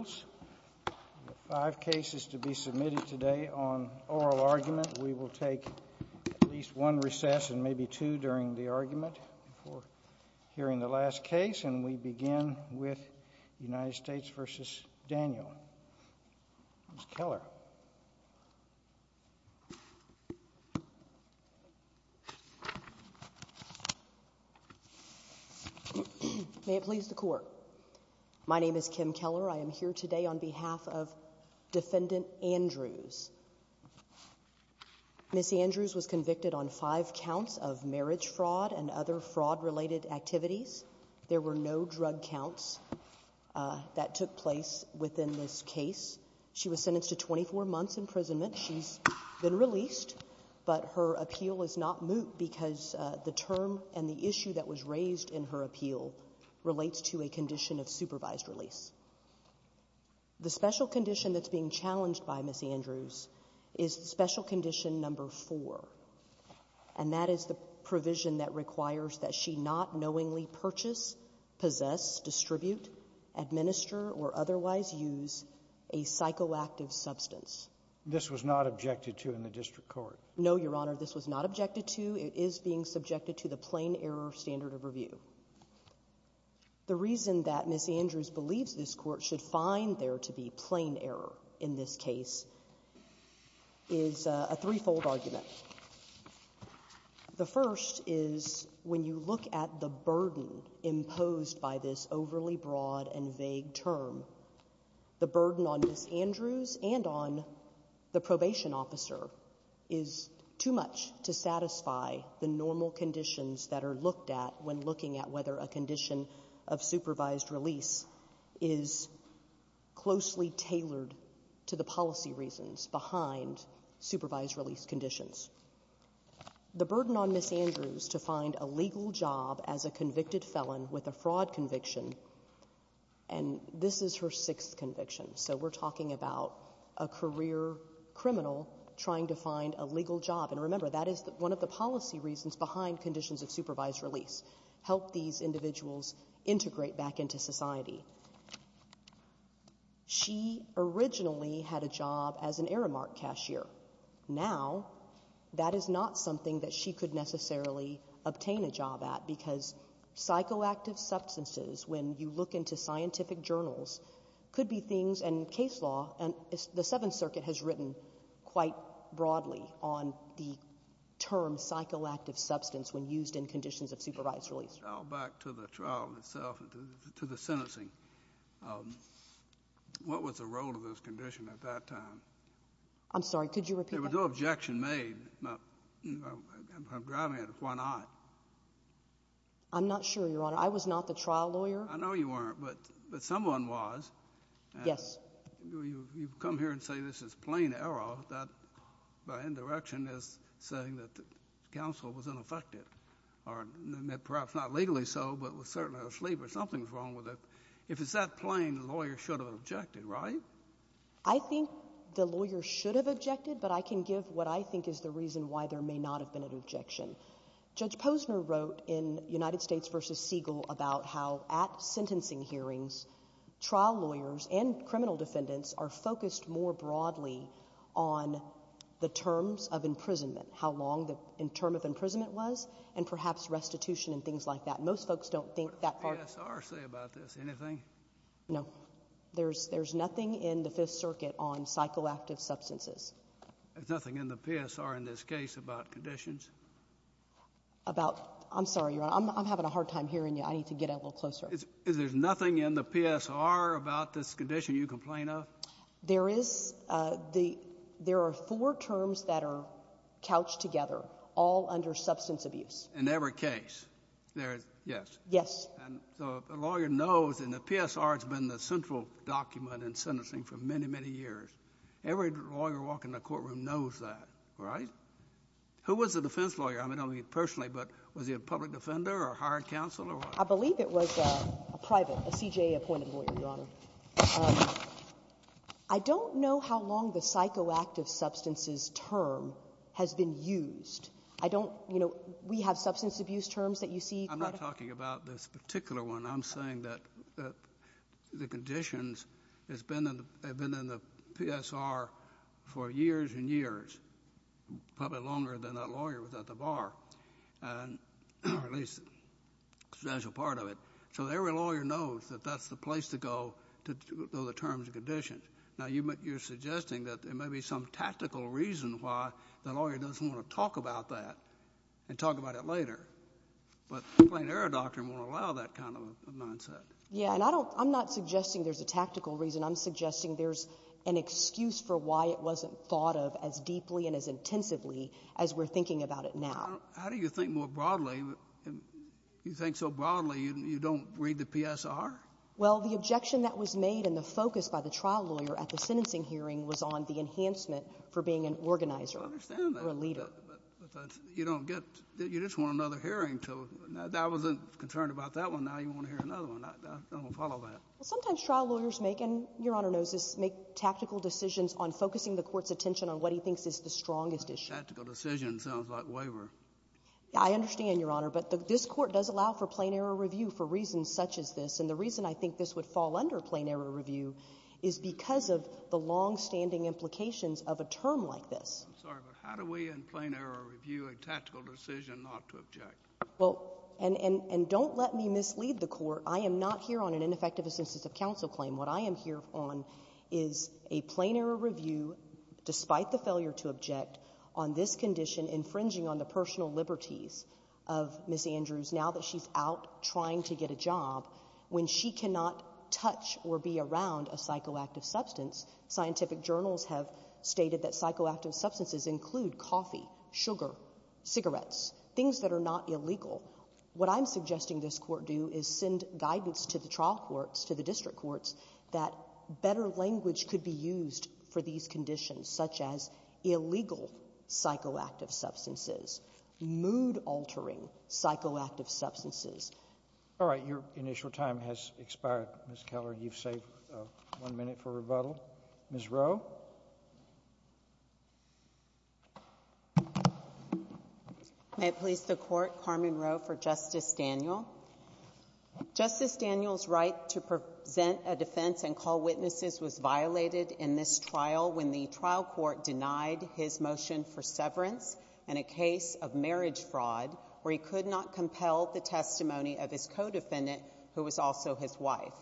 We have five cases to be submitted today on oral argument. We will take at least one recess and maybe two during the argument before hearing the last case, and we begin with United States v. Daniel. Ms. Keller. May it please the Court. My name is Kim Keller. I am here today on behalf of Defendant Andrews. Ms. Andrews was convicted on five counts of marriage fraud and other fraud-related activities. There were no drug counts that took place within this case. She was sentenced to 24 months' imprisonment. She's been released, but her appeal is not moot because the term and the issue that was raised in her appeal relates to a condition of supervised release. The special condition that's being challenged by Ms. Andrews is special condition number four, and that is the provision that requires that she not knowingly purchase, possess, distribute, administer, or otherwise use a psychoactive substance. This was not objected to in the district court. No, Your Honor, this was not objected to. It is being subjected to the plain error standard of review. The reason that Ms. Andrews believes this Court should find there to be plain error in this case is a threefold argument. The first is when you look at the burden imposed by this overly broad and vague term, the burden on Ms. Andrews and on the probation officer is too much to satisfy the normal conditions that are looked at when looking at whether a condition of supervised release is closely tailored to the policy reasons behind supervised release conditions. The burden on Ms. Andrews to find a legal job as a convicted felon with a fraud conviction, and this is her sixth conviction, so we're talking about a career criminal trying to find a legal job. And remember, that is one of the policy reasons behind conditions of supervised release, help these individuals integrate back into society. She originally had a job as an Aramark cashier. Now that is not something that she could necessarily obtain a job at because psychoactive substances, when you look into scientific journals, could be things, and case law and the Seventh Circuit has written quite broadly on the term psychoactive substance when used in conditions of supervised release. Back to the trial itself, to the sentencing, what was the role of this condition at that time? I'm sorry, could you repeat that? There was no objection made. I'm driving at it. Why not? I'm not sure, Your Honor. I was not the trial lawyer. I know you weren't, but someone was. Yes. You come here and say this is plain error. That, by indirection, is saying that the counsel was unaffected, or perhaps not legally so, but was certainly asleep, or something's wrong with it. If it's that plain, the lawyer should have objected, right? I think the lawyer should have objected, but I can give what I think is the reason why there may not have been an objection. Judge Posner wrote in United States v. Siegel about how at sentencing hearings, trial lawyers and criminal defendants are focused more broadly on the terms of imprisonment, how long the term of imprisonment was, and perhaps restitution and things like that. Most folks don't think that part of it. What does the ESR say about this? Anything? No. There's nothing in the Fifth Circuit on psychoactive substances. There's nothing in the PSR in this case about conditions? About — I'm sorry, Your Honor. I'm having a hard time hearing you. I need to get a little closer. Is there nothing in the PSR about this condition you complain of? There is. There are four terms that are couched together, all under substance abuse. In every case? Yes. Yes. And so the lawyer knows, and the PSR has been the central document in sentencing for many, many years. Every lawyer walking in a courtroom knows that, right? Who was the defense lawyer? I mean, I don't mean personally, but was he a public defender or hired counsel or what? I believe it was a private, a CJA-appointed lawyer, Your Honor. I don't know how long the psychoactive substances term has been used. I don't — you know, we have substance abuse terms that you see. I'm not talking about this particular one. I'm saying that the conditions have been in the PSR for years and years, probably longer than that lawyer was at the bar, or at least a substantial part of it. So every lawyer knows that that's the place to go to know the terms and conditions. Now, you're suggesting that there may be some tactical reason why the lawyer doesn't want to talk about that and talk about it later. But plain error doctrine won't allow that kind of a mindset. Yeah. And I don't — I'm not suggesting there's a tactical reason. I'm suggesting there's an excuse for why it wasn't thought of as deeply and as intensively as we're thinking about it now. How do you think more broadly? You think so broadly you don't read the PSR? Well, the objection that was made and the focus by the trial lawyer at the sentencing hearing was on the enhancement for being an organizer or a leader. I understand that. But you don't get — you just want another hearing. So I wasn't concerned about that one. Now you want to hear another one. I don't follow that. Well, sometimes trial lawyers make — and Your Honor knows this — make tactical decisions on focusing the court's attention on what he thinks is the strongest issue. Tactical decision sounds like waiver. I understand, Your Honor. But this Court does allow for plain error review for reasons such as this. And the reason I think this would fall under plain error review is because of the longstanding implications of a term like this. I'm sorry, but how do we in plain error review a tactical decision not to object? Well, and don't let me mislead the Court. I am not here on an ineffective assistance of counsel claim. What I am here on is a plain error review despite the failure to object on this condition infringing on the personal liberties of Ms. Andrews now that she's out trying to get a job when she cannot touch or be around a psychoactive substance. Scientific journals have stated that psychoactive substances include coffee, sugar, cigarettes, things that are not illegal. What I'm suggesting this Court do is send guidance to the trial courts, to the district courts, that better language could be used for these conditions such as illegal psychoactive substances, mood-altering psychoactive substances. All right. Your initial time has expired, Ms. Keller. You've saved one minute for rebuttal. Ms. Rowe. May it please the Court, Carmen Rowe for Justice Daniel. Justice Daniel's right to present a defense and call witnesses was violated in this trial when the trial court denied his motion for severance in a case of marriage fraud where he could not compel the testimony of his co-defendant who was also his wife.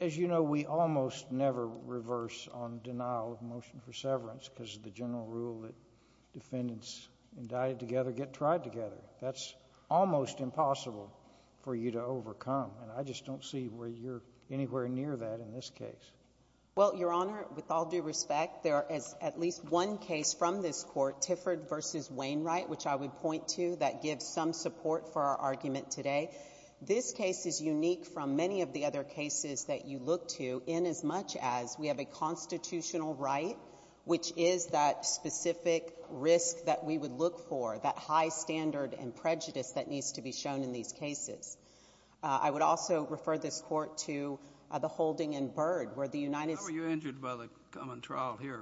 As you know, we almost never reverse on denial of motion for severance because of the general rule that defendants indicted together get tried together. That's almost impossible for you to overcome, and I just don't see where you're anywhere near that in this case. Well, Your Honor, with all due respect, there is at least one case from this Court, called Tifford v. Wainwright, which I would point to, that gives some support for our argument today. This case is unique from many of the other cases that you look to in as much as we have a constitutional right, which is that specific risk that we would look for, that high standard and prejudice that needs to be shown in these cases. I would also refer this Court to the holding in Byrd where the United States— How were you injured by the common trial here?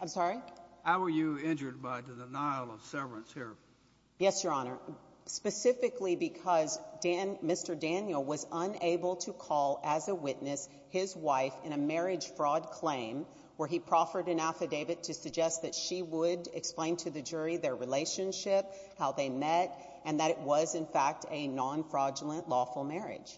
I'm sorry? How were you injured by the denial of severance here? Yes, Your Honor, specifically because Mr. Daniel was unable to call as a witness his wife in a marriage fraud claim where he proffered an affidavit to suggest that she would explain to the jury their relationship, how they met, and that it was, in fact, a non-fraudulent lawful marriage.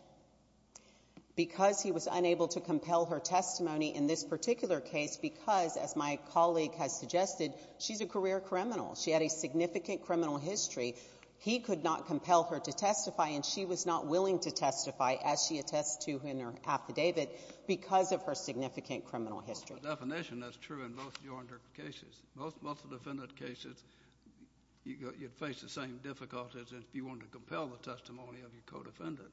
Because he was unable to compel her testimony in this particular case because, as my colleague has suggested, she's a career criminal. She had a significant criminal history. He could not compel her to testify, and she was not willing to testify, as she attests to in her affidavit, because of her significant criminal history. By definition, that's true in most of Your Honor's cases. Most of the defendant's cases, you'd face the same difficulties if you wanted to compel the testimony of your co-defendant.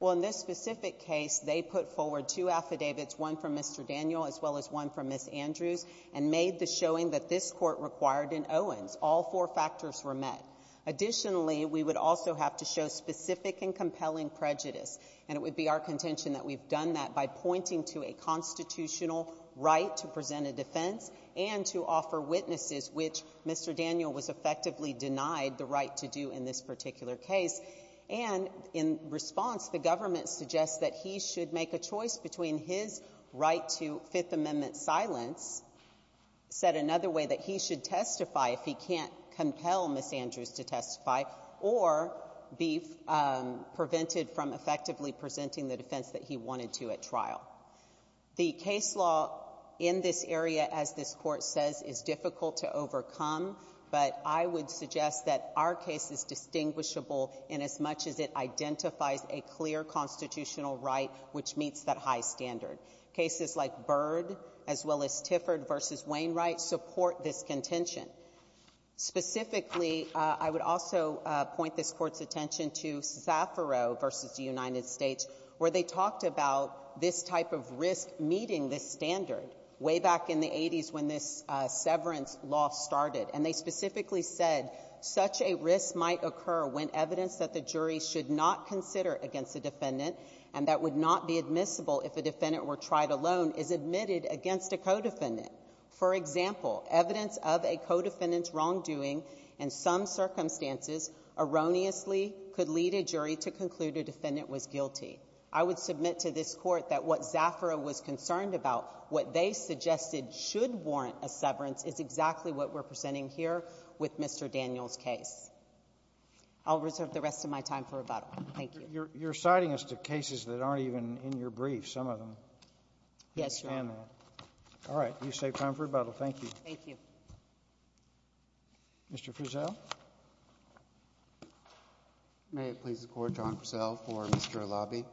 Well, in this specific case, they put forward two affidavits, one from Mr. Daniel as well as one from Ms. Andrews, and made the showing that this court required an Owens. All four factors were met. Additionally, we would also have to show specific and compelling prejudice, and it would be our contention that we've done that by pointing to a constitutional right to present a defense and to offer witnesses, which Mr. Daniel was effectively denied the right to do in this particular case. And in response, the government suggests that he should make a choice between his right to Fifth Amendment silence, said another way that he should testify if he can't compel Ms. Andrews to testify, or be prevented from effectively presenting the defense that he wanted to at trial. The case law in this area, as this Court says, is difficult to overcome, but I would suggest that our case is distinguishable inasmuch as it identifies a clear constitutional right which meets that high standard. Cases like Byrd as well as Tifford v. Wainwright support this contention. Specifically, I would also point this Court's attention to Zaffiro v. United States, where they talked about this type of risk meeting this standard way back in the 80s when this severance law started, and they specifically said such a risk might occur when evidence that the jury should not consider against a defendant and that would not be admissible if a defendant were tried alone is admitted against a co-defendant. For example, evidence of a co-defendant's wrongdoing in some circumstances erroneously could lead a jury to conclude a defendant was guilty. I would submit to this Court that what Zaffiro was concerned about, what they suggested should warrant a severance, is exactly what we're presenting here with Mr. Daniels' case. I'll reserve the rest of my time for rebuttal. Thank you. You're citing us to cases that aren't even in your brief, some of them. Yes, Your Honor. All right. You've saved time for rebuttal. Thank you. Thank you. Mr. Frizzell? May it please the Court. John Frizzell for Mr. Alabi.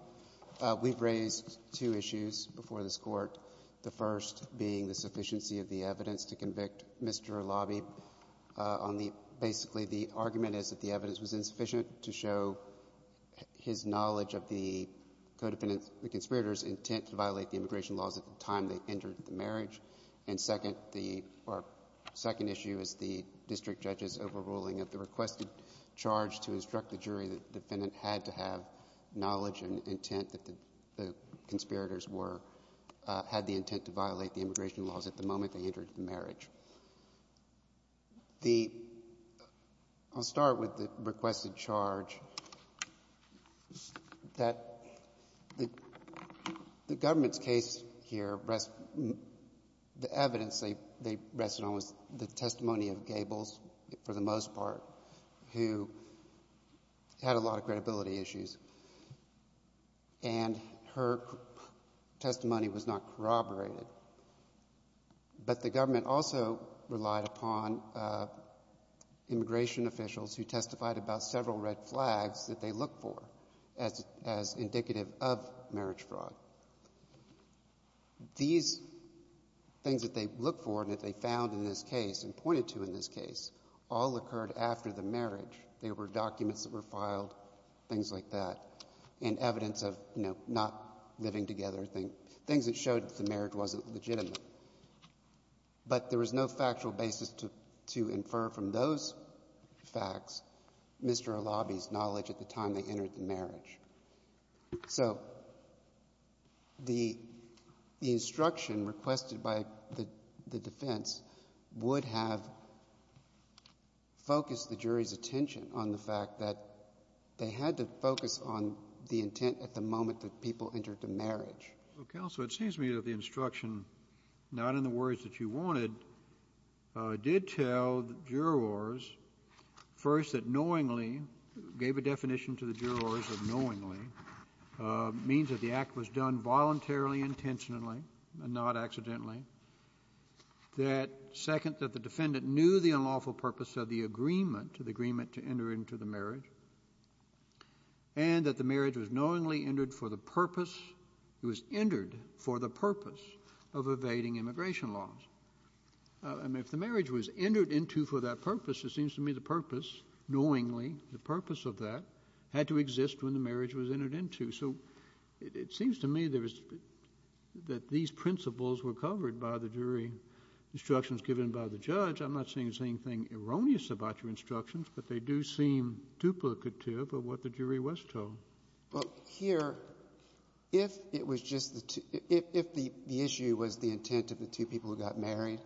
We've raised two issues before this Court, the first being the sufficiency of the evidence to convict Mr. Alabi. Basically, the argument is that the evidence was insufficient to show his knowledge of the co-defendant, the conspirator's intent to violate the immigration laws at the time they entered the marriage. And second issue is the district judge's overruling of the requested charge to instruct the jury that the defendant had to have knowledge and intent that the conspirators had the intent to violate the immigration laws at the moment they entered the marriage. I'll start with the requested charge. The government's case here, the evidence they rested on was the testimony of Gables, for the most part, who had a lot of credibility issues, and her testimony was not corroborated. But the government also relied upon immigration officials who testified about several red flags that they looked for as indicative of marriage fraud. These things that they looked for and that they found in this case and pointed to in this case all occurred after the marriage. There were documents that were filed, things like that, and evidence of not living together, things that showed that the marriage wasn't legitimate. But there was no factual basis to infer from those facts Mr. Alabi's knowledge at the time they entered the marriage. So the instruction requested by the defense would have focused the jury's attention on the fact that they had to focus on the intent at the moment that people entered the marriage. Well, counsel, it seems to me that the instruction, not in the words that you wanted, did tell the jurors, first, that knowingly, gave a definition to the jurors of knowingly, means that the act was done voluntarily, intentionally, and not accidentally. Second, that the defendant knew the unlawful purpose of the agreement to enter into the marriage and that the marriage was knowingly entered for the purpose of evading immigration laws. If the marriage was entered into for that purpose, it seems to me the purpose, knowingly, the purpose of that had to exist when the marriage was entered into. So it seems to me that these principles were covered by the jury instructions given by the judge. I'm not saying there's anything erroneous about your instructions, but they do seem duplicative of what the jury was told. Well, here, if the issue was the intent of the two people who got married,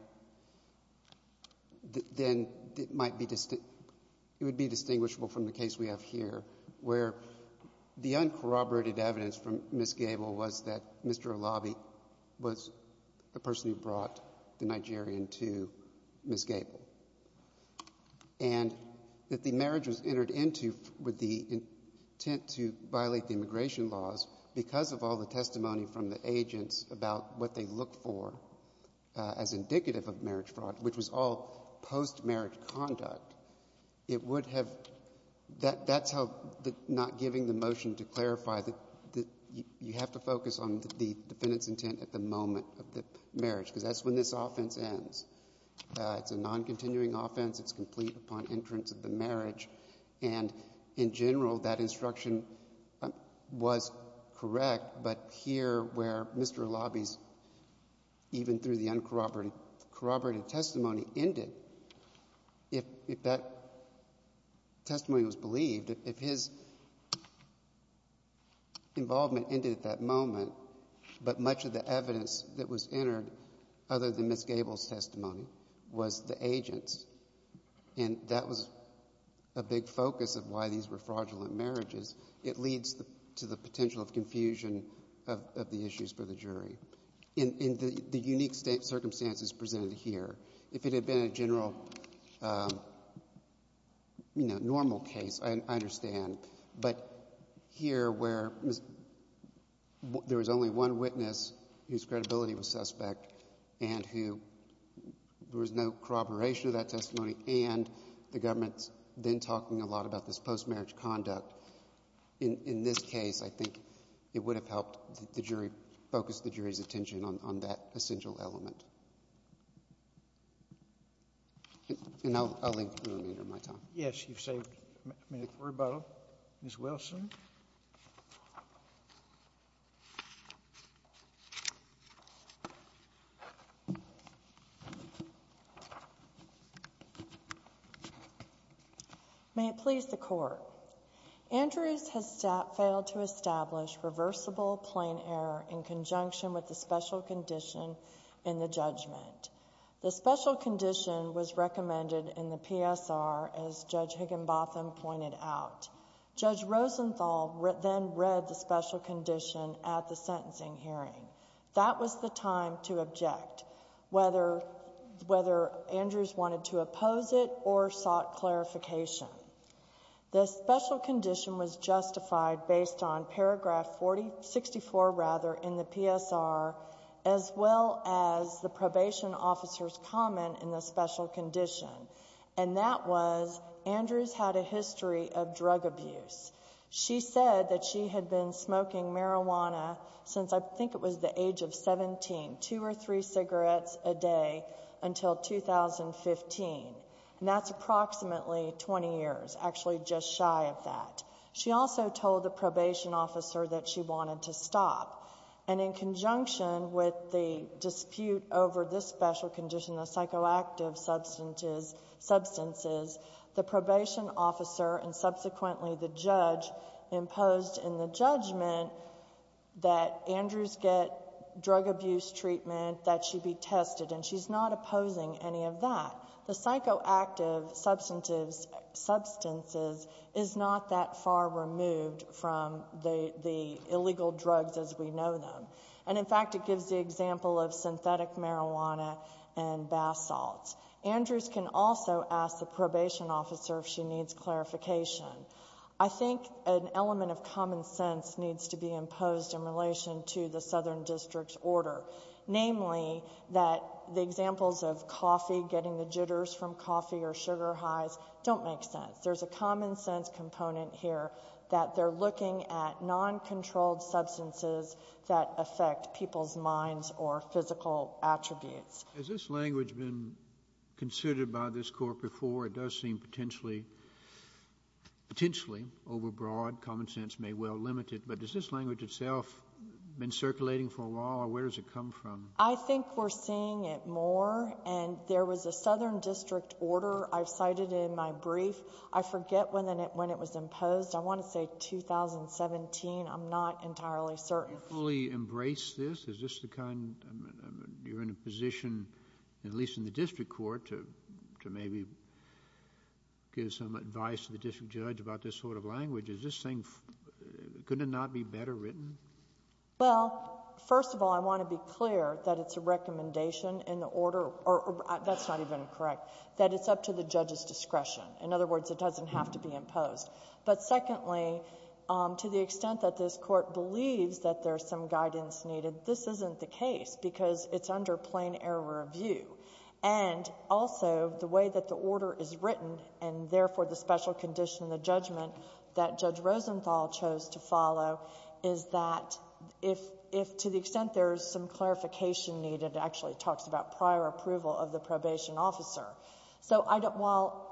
then it would be distinguishable from the case we have here, where the uncorroborated evidence from Ms. Gable was that Mr. Olabi was the person who brought the Nigerian to Ms. Gable. And that the marriage was entered into with the intent to violate the immigration laws because of all the testimony from the agents about what they look for as indicative of marriage fraud, which was all post-marriage conduct, that's not giving the motion to clarify that you have to focus on the defendant's intent at the moment of the marriage because that's when this offense ends. It's a non-continuing offense. It's complete upon entrance of the marriage. And in general, that instruction was correct, but here where Mr. Olabi's, even through the uncorroborated testimony, ended, if that testimony was believed, if his involvement ended at that moment, but much of the evidence that was entered other than Ms. Gable's testimony was the agent's, and that was a big focus of why these were fraudulent marriages, it leads to the potential of confusion of the issues for the jury. In the unique circumstances presented here, if it had been a general, you know, normal case, I understand. But here where there was only one witness whose credibility was suspect and who there was no corroboration of that testimony and the government's then talking a lot about this post-marriage conduct, in this case, I think it would have helped the jury focus the jury's attention on that essential element. And I'll leave the remainder of my time. Yes, you've saved me the rebuttal. Ms. Wilson. May it please the Court. Andrews has failed to establish reversible plain error in conjunction with the special condition in the judgment. The special condition was recommended in the PSR, as Judge Higginbotham pointed out. Judge Rosenthal then read the special condition at the sentencing hearing. That was the time to object, whether Andrews wanted to oppose it or sought clarification. The special condition was justified based on paragraph 64 in the PSR, as well as the probation officer's comment in the special condition. And that was, Andrews had a history of drug abuse. She said that she had been smoking marijuana since I think it was the age of 17, two or three cigarettes a day until 2015. And that's approximately 20 years, actually just shy of that. She also told the probation officer that she wanted to stop. And in conjunction with the dispute over this special condition, the psychoactive substances, the probation officer and subsequently the judge imposed in the judgment that Andrews get drug abuse treatment, that she be tested. And she's not opposing any of that. The psychoactive substances is not that far removed from the illegal drugs as we know them. And, in fact, it gives the example of synthetic marijuana and bath salts. Andrews can also ask the probation officer if she needs clarification. I think an element of common sense needs to be imposed in relation to the Southern District's order, namely that the examples of coffee, getting the jitters from coffee or sugar highs, don't make sense. There's a common sense component here that they're looking at noncontrolled substances that affect people's minds or physical attributes. Has this language been considered by this court before? It does seem potentially overbroad, common sense may well limit it. But has this language itself been circulating for a while or where does it come from? I think we're seeing it more and there was a Southern District order I've cited in my brief. I forget when it was imposed. I want to say 2017. I'm not entirely certain. Do you fully embrace this? Is this the kind... you're in a position, at least in the district court, to maybe give some advice to the district judge about this sort of language. Is this thing going to not be better written? Well, first of all, I want to be clear that it's a recommendation in the order, or that's not even correct, that it's up to the judge's discretion. In other words, it doesn't have to be imposed. But secondly, to the extent that this court believes that there's some guidance needed, this isn't the case because it's under plain error of view. And also, the way that the order is written and, therefore, the special condition, the judgment that Judge Rosenthal chose to follow is that if, to the extent there is some clarification needed, it actually talks about prior approval of the probation officer. So while,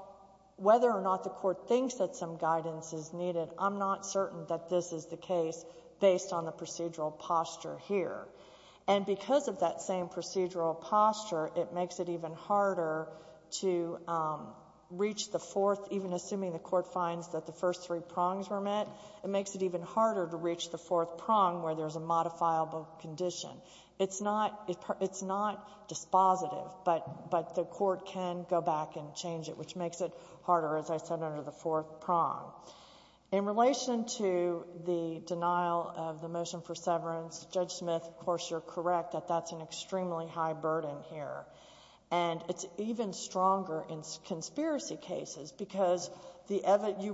whether or not the court thinks that some guidance is needed, I'm not certain that this is the case based on the procedural posture here. And because of that same procedural posture, it makes it even harder to reach the fourth, even assuming the court finds that the first three prongs were met, it makes it even harder to reach the fourth prong where there's a modifiable condition. It's not dispositive, but the court can go back and change it, which makes it harder, as I said, under the fourth prong. In relation to the denial of the motion for severance, Judge Smith, of course, you're correct, that that's an extremely high burden here. And it's even stronger in conspiracy cases because you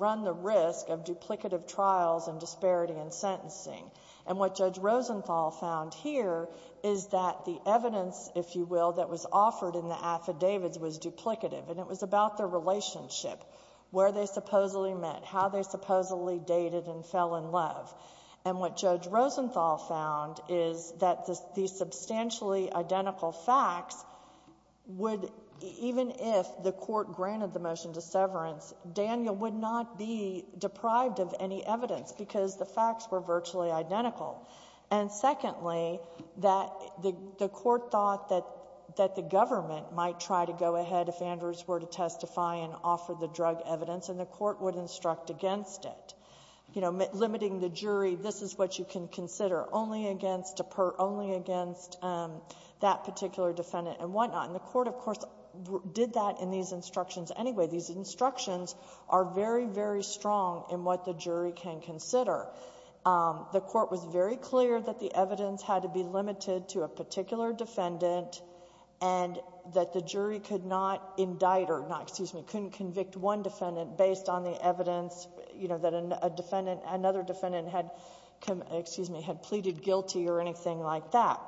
run the risk of duplicative trials and disparity in sentencing. And what Judge Rosenthal found here is that the evidence, if you will, that was offered in the affidavits was duplicative. And it was about the relationship, where they supposedly met, how they supposedly dated and fell in love. And what Judge Rosenthal found is that the substantially identical facts would, even if the court granted the motion to severance, Daniel would not be deprived of any evidence because the facts were virtually identical. And secondly, the court thought that the government might try to go ahead, if Andrews were to testify and offer the drug evidence, and the court would instruct against it, limiting the jury, this is what you can consider, only against that particular defendant and whatnot. And the court, of course, did that in these instructions anyway. These instructions are very, very strong in what the jury can consider. The court was very clear that the evidence had to be limited to a particular defendant and that the jury could not indict or, excuse me, couldn't convict one defendant based on the evidence, you know, that another defendant had pleaded guilty or anything like that.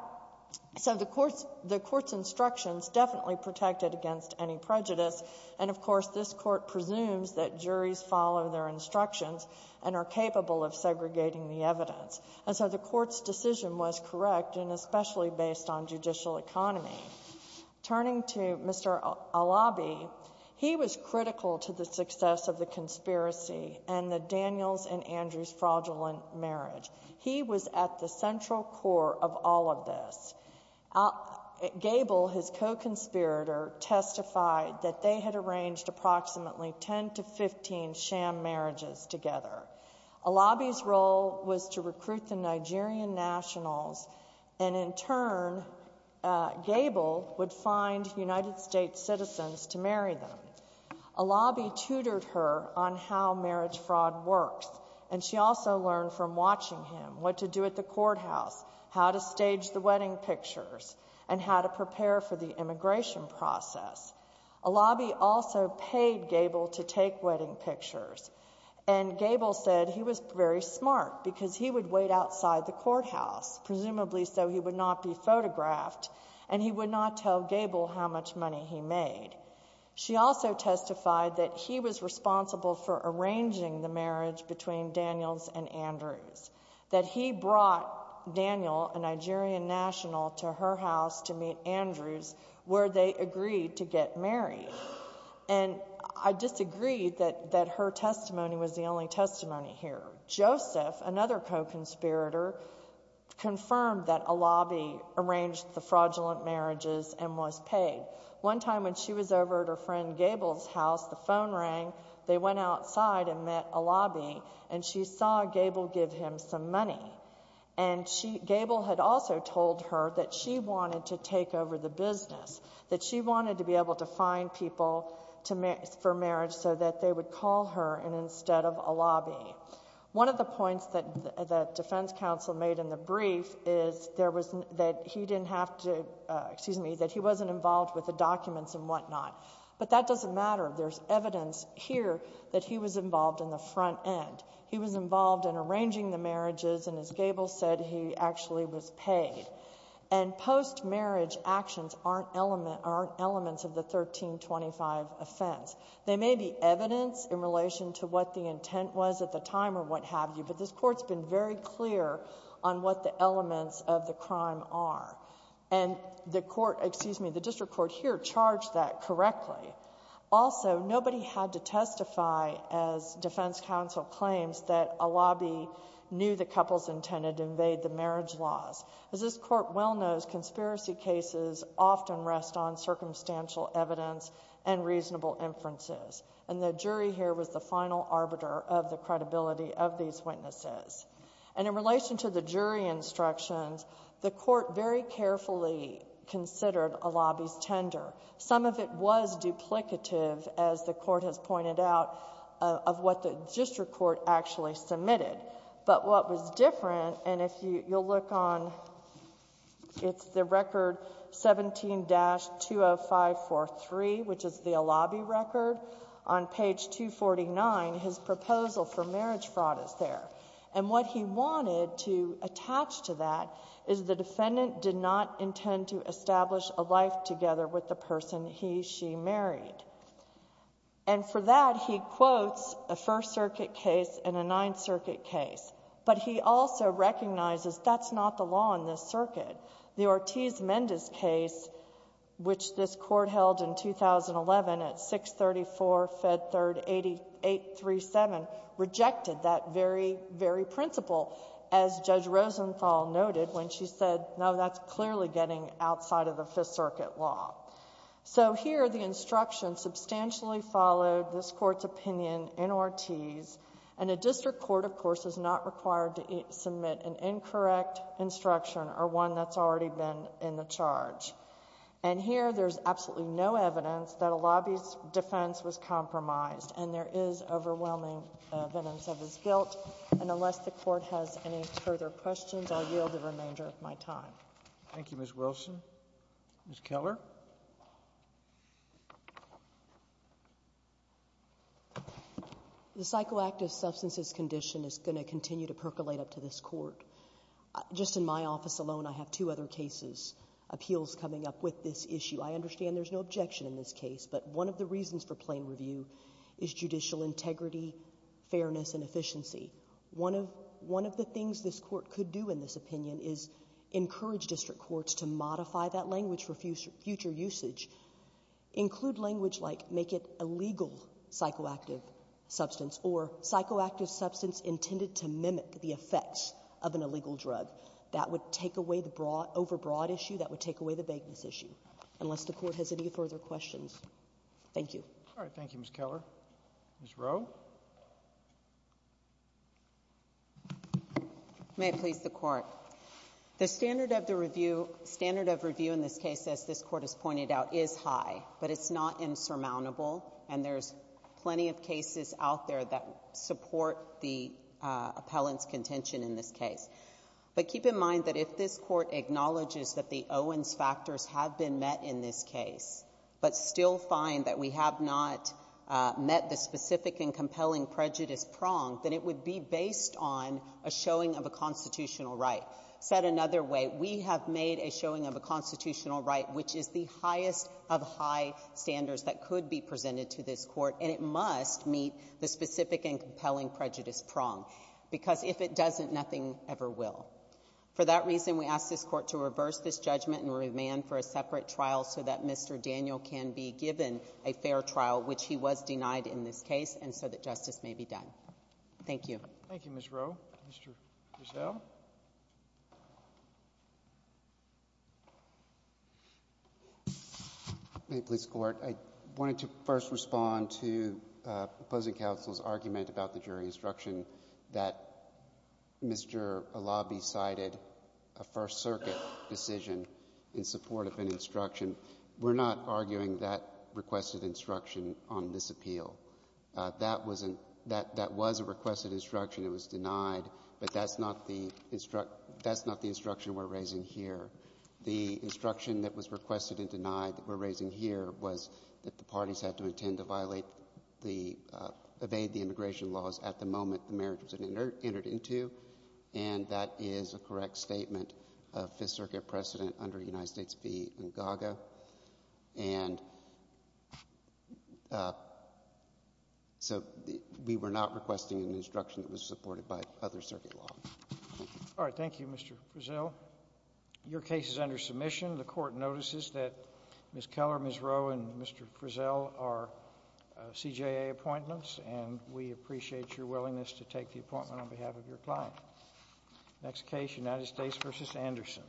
So the court's instructions definitely protected against any prejudice. And, of course, this court presumes that juries follow their instructions and are capable of segregating the evidence. And so the court's decision was correct and especially based on judicial economy. Turning to Mr. Alabi, he was critical to the success of the conspiracy and the Daniels and Andrews fraudulent marriage. He was at the central core of all of this. Gable, his co-conspirator, testified that they had arranged approximately 10 to 15 sham marriages together. Alabi's role was to recruit the Nigerian nationals, and in turn Gable would find United States citizens to marry them. Alabi tutored her on how marriage fraud works, and she also learned from watching him what to do at the courthouse, how to stage the wedding pictures, and how to prepare for the immigration process. Alabi also paid Gable to take wedding pictures, and Gable said he was very smart because he would wait outside the courthouse, presumably so he would not be photographed, and he would not tell Gable how much money he made. She also testified that he was responsible for arranging the marriage between Daniels and Andrews, that he brought Daniel, a Nigerian national, to her house to meet Andrews, where they agreed to get married. And I disagree that her testimony was the only testimony here. Joseph, another co-conspirator, confirmed that Alabi arranged the fraudulent marriages and was paid. One time when she was over at her friend Gable's house, the phone rang. They went outside and met Alabi, and she saw Gable give him some money. And Gable had also told her that she wanted to take over the business, that she wanted to be able to find people for marriage so that they would call her instead of Alabi. One of the points that the defense counsel made in the brief is that he didn't have to, excuse me, that he wasn't involved with the documents and whatnot. But that doesn't matter. There's evidence here that he was involved in the front end. He was involved in arranging the marriages, and as Gable said, he actually was paid. And post-marriage actions aren't elements of the 1325 offense. They may be evidence in relation to what the intent was at the time or what have you, but this Court's been very clear on what the elements of the crime are. And the court, excuse me, the district court here charged that correctly. Also, nobody had to testify as defense counsel claims that Alabi knew the couple's intended to invade the marriage laws. As this Court well knows, conspiracy cases often rest on circumstantial evidence and reasonable inferences. And the jury here was the final arbiter of the credibility of these witnesses. And in relation to the jury instructions, the court very carefully considered Alabi's tender. Some of it was duplicative, as the court has pointed out, of what the district court actually submitted. But what was different, and if you'll look on, it's the record 17-20543, which is the Alabi record. On page 249, his proposal for marriage fraud is there. And what he wanted to attach to that is the defendant did not intend to establish a life together with the person he, she married. And for that, he quotes a First Circuit case and a Ninth Circuit case. But he also recognizes that's not the law in this circuit. The Ortiz-Mendez case, which this Court held in 2011 at 634 Fed 3rd 8837, rejected that very, very principle, as Judge Rosenthal noted when she said, no, that's clearly getting outside of the Fifth Circuit law. So here, the instruction substantially followed this Court's opinion in Ortiz. And a district court, of course, is not required to submit an incorrect instruction or one that's already been in the charge. And here, there's absolutely no evidence that Alabi's defense was compromised. And there is overwhelming evidence of his guilt. And unless the Court has any further questions, I'll yield the remainder of my time. Thank you, Ms. Wilson. Ms. Keller. The psychoactive substances condition is going to continue to percolate up to this Court. Just in my office alone, I have two other cases, appeals coming up with this issue. I understand there's no objection in this case. But one of the reasons for plain review is judicial integrity, fairness, and efficiency. One of the things this Court could do in this opinion is encourage district courts to modify that language for future usage. Include language like make it illegal psychoactive substance or psychoactive substance intended to mimic the effects of an illegal drug. That would take away the overbroad issue. That would take away the vagueness issue. Unless the Court has any further questions. Thank you. Thank you, Ms. Keller. Ms. Rowe. May it please the Court. The standard of review in this case, as this Court has pointed out, is high, but it's not insurmountable. And there's plenty of cases out there that support the appellant's contention in this case. But keep in mind that if this Court acknowledges that the Owens factors have been met in this case, but still find that we have not met the specific and compelling prejudice prong, then it would be based on a showing of a constitutional right. Said another way, we have made a showing of a constitutional right which is the highest of high standards that could be presented to this Court, and it must meet the specific and compelling prejudice prong. Because if it doesn't, nothing ever will. For that reason, we ask this Court to reverse this judgment and remand for a separate trial so that Mr. Daniel can be given a fair trial, which he was denied in this case, and so that justice may be done. Thank you. Thank you, Ms. Rowe. Mr. Giselle. May it please the Court. I wanted to first respond to opposing counsel's argument about the jury instruction that Mr. Alabi cited a First Circuit decision in support of an instruction. We're not arguing that requested instruction on this appeal. That was a requested instruction. It was denied. But that's not the instruction we're raising here. The instruction that was requested and denied that we're raising here was that the parties had to intend to violate the — evade the immigration laws at the moment the marriage was entered into, and that is a correct statement of Fifth Circuit precedent under United States v. Ntgaga. And so we were not requesting an instruction that was supported by other circuit law. All right. Thank you, Mr. Giselle. Your case is under submission. The Court notices that Ms. Keller, Ms. Rowe, and Mr. Giselle are CJA appointments, and we appreciate your willingness to take the appointment on behalf of your client. Next case, United States v. Anderson.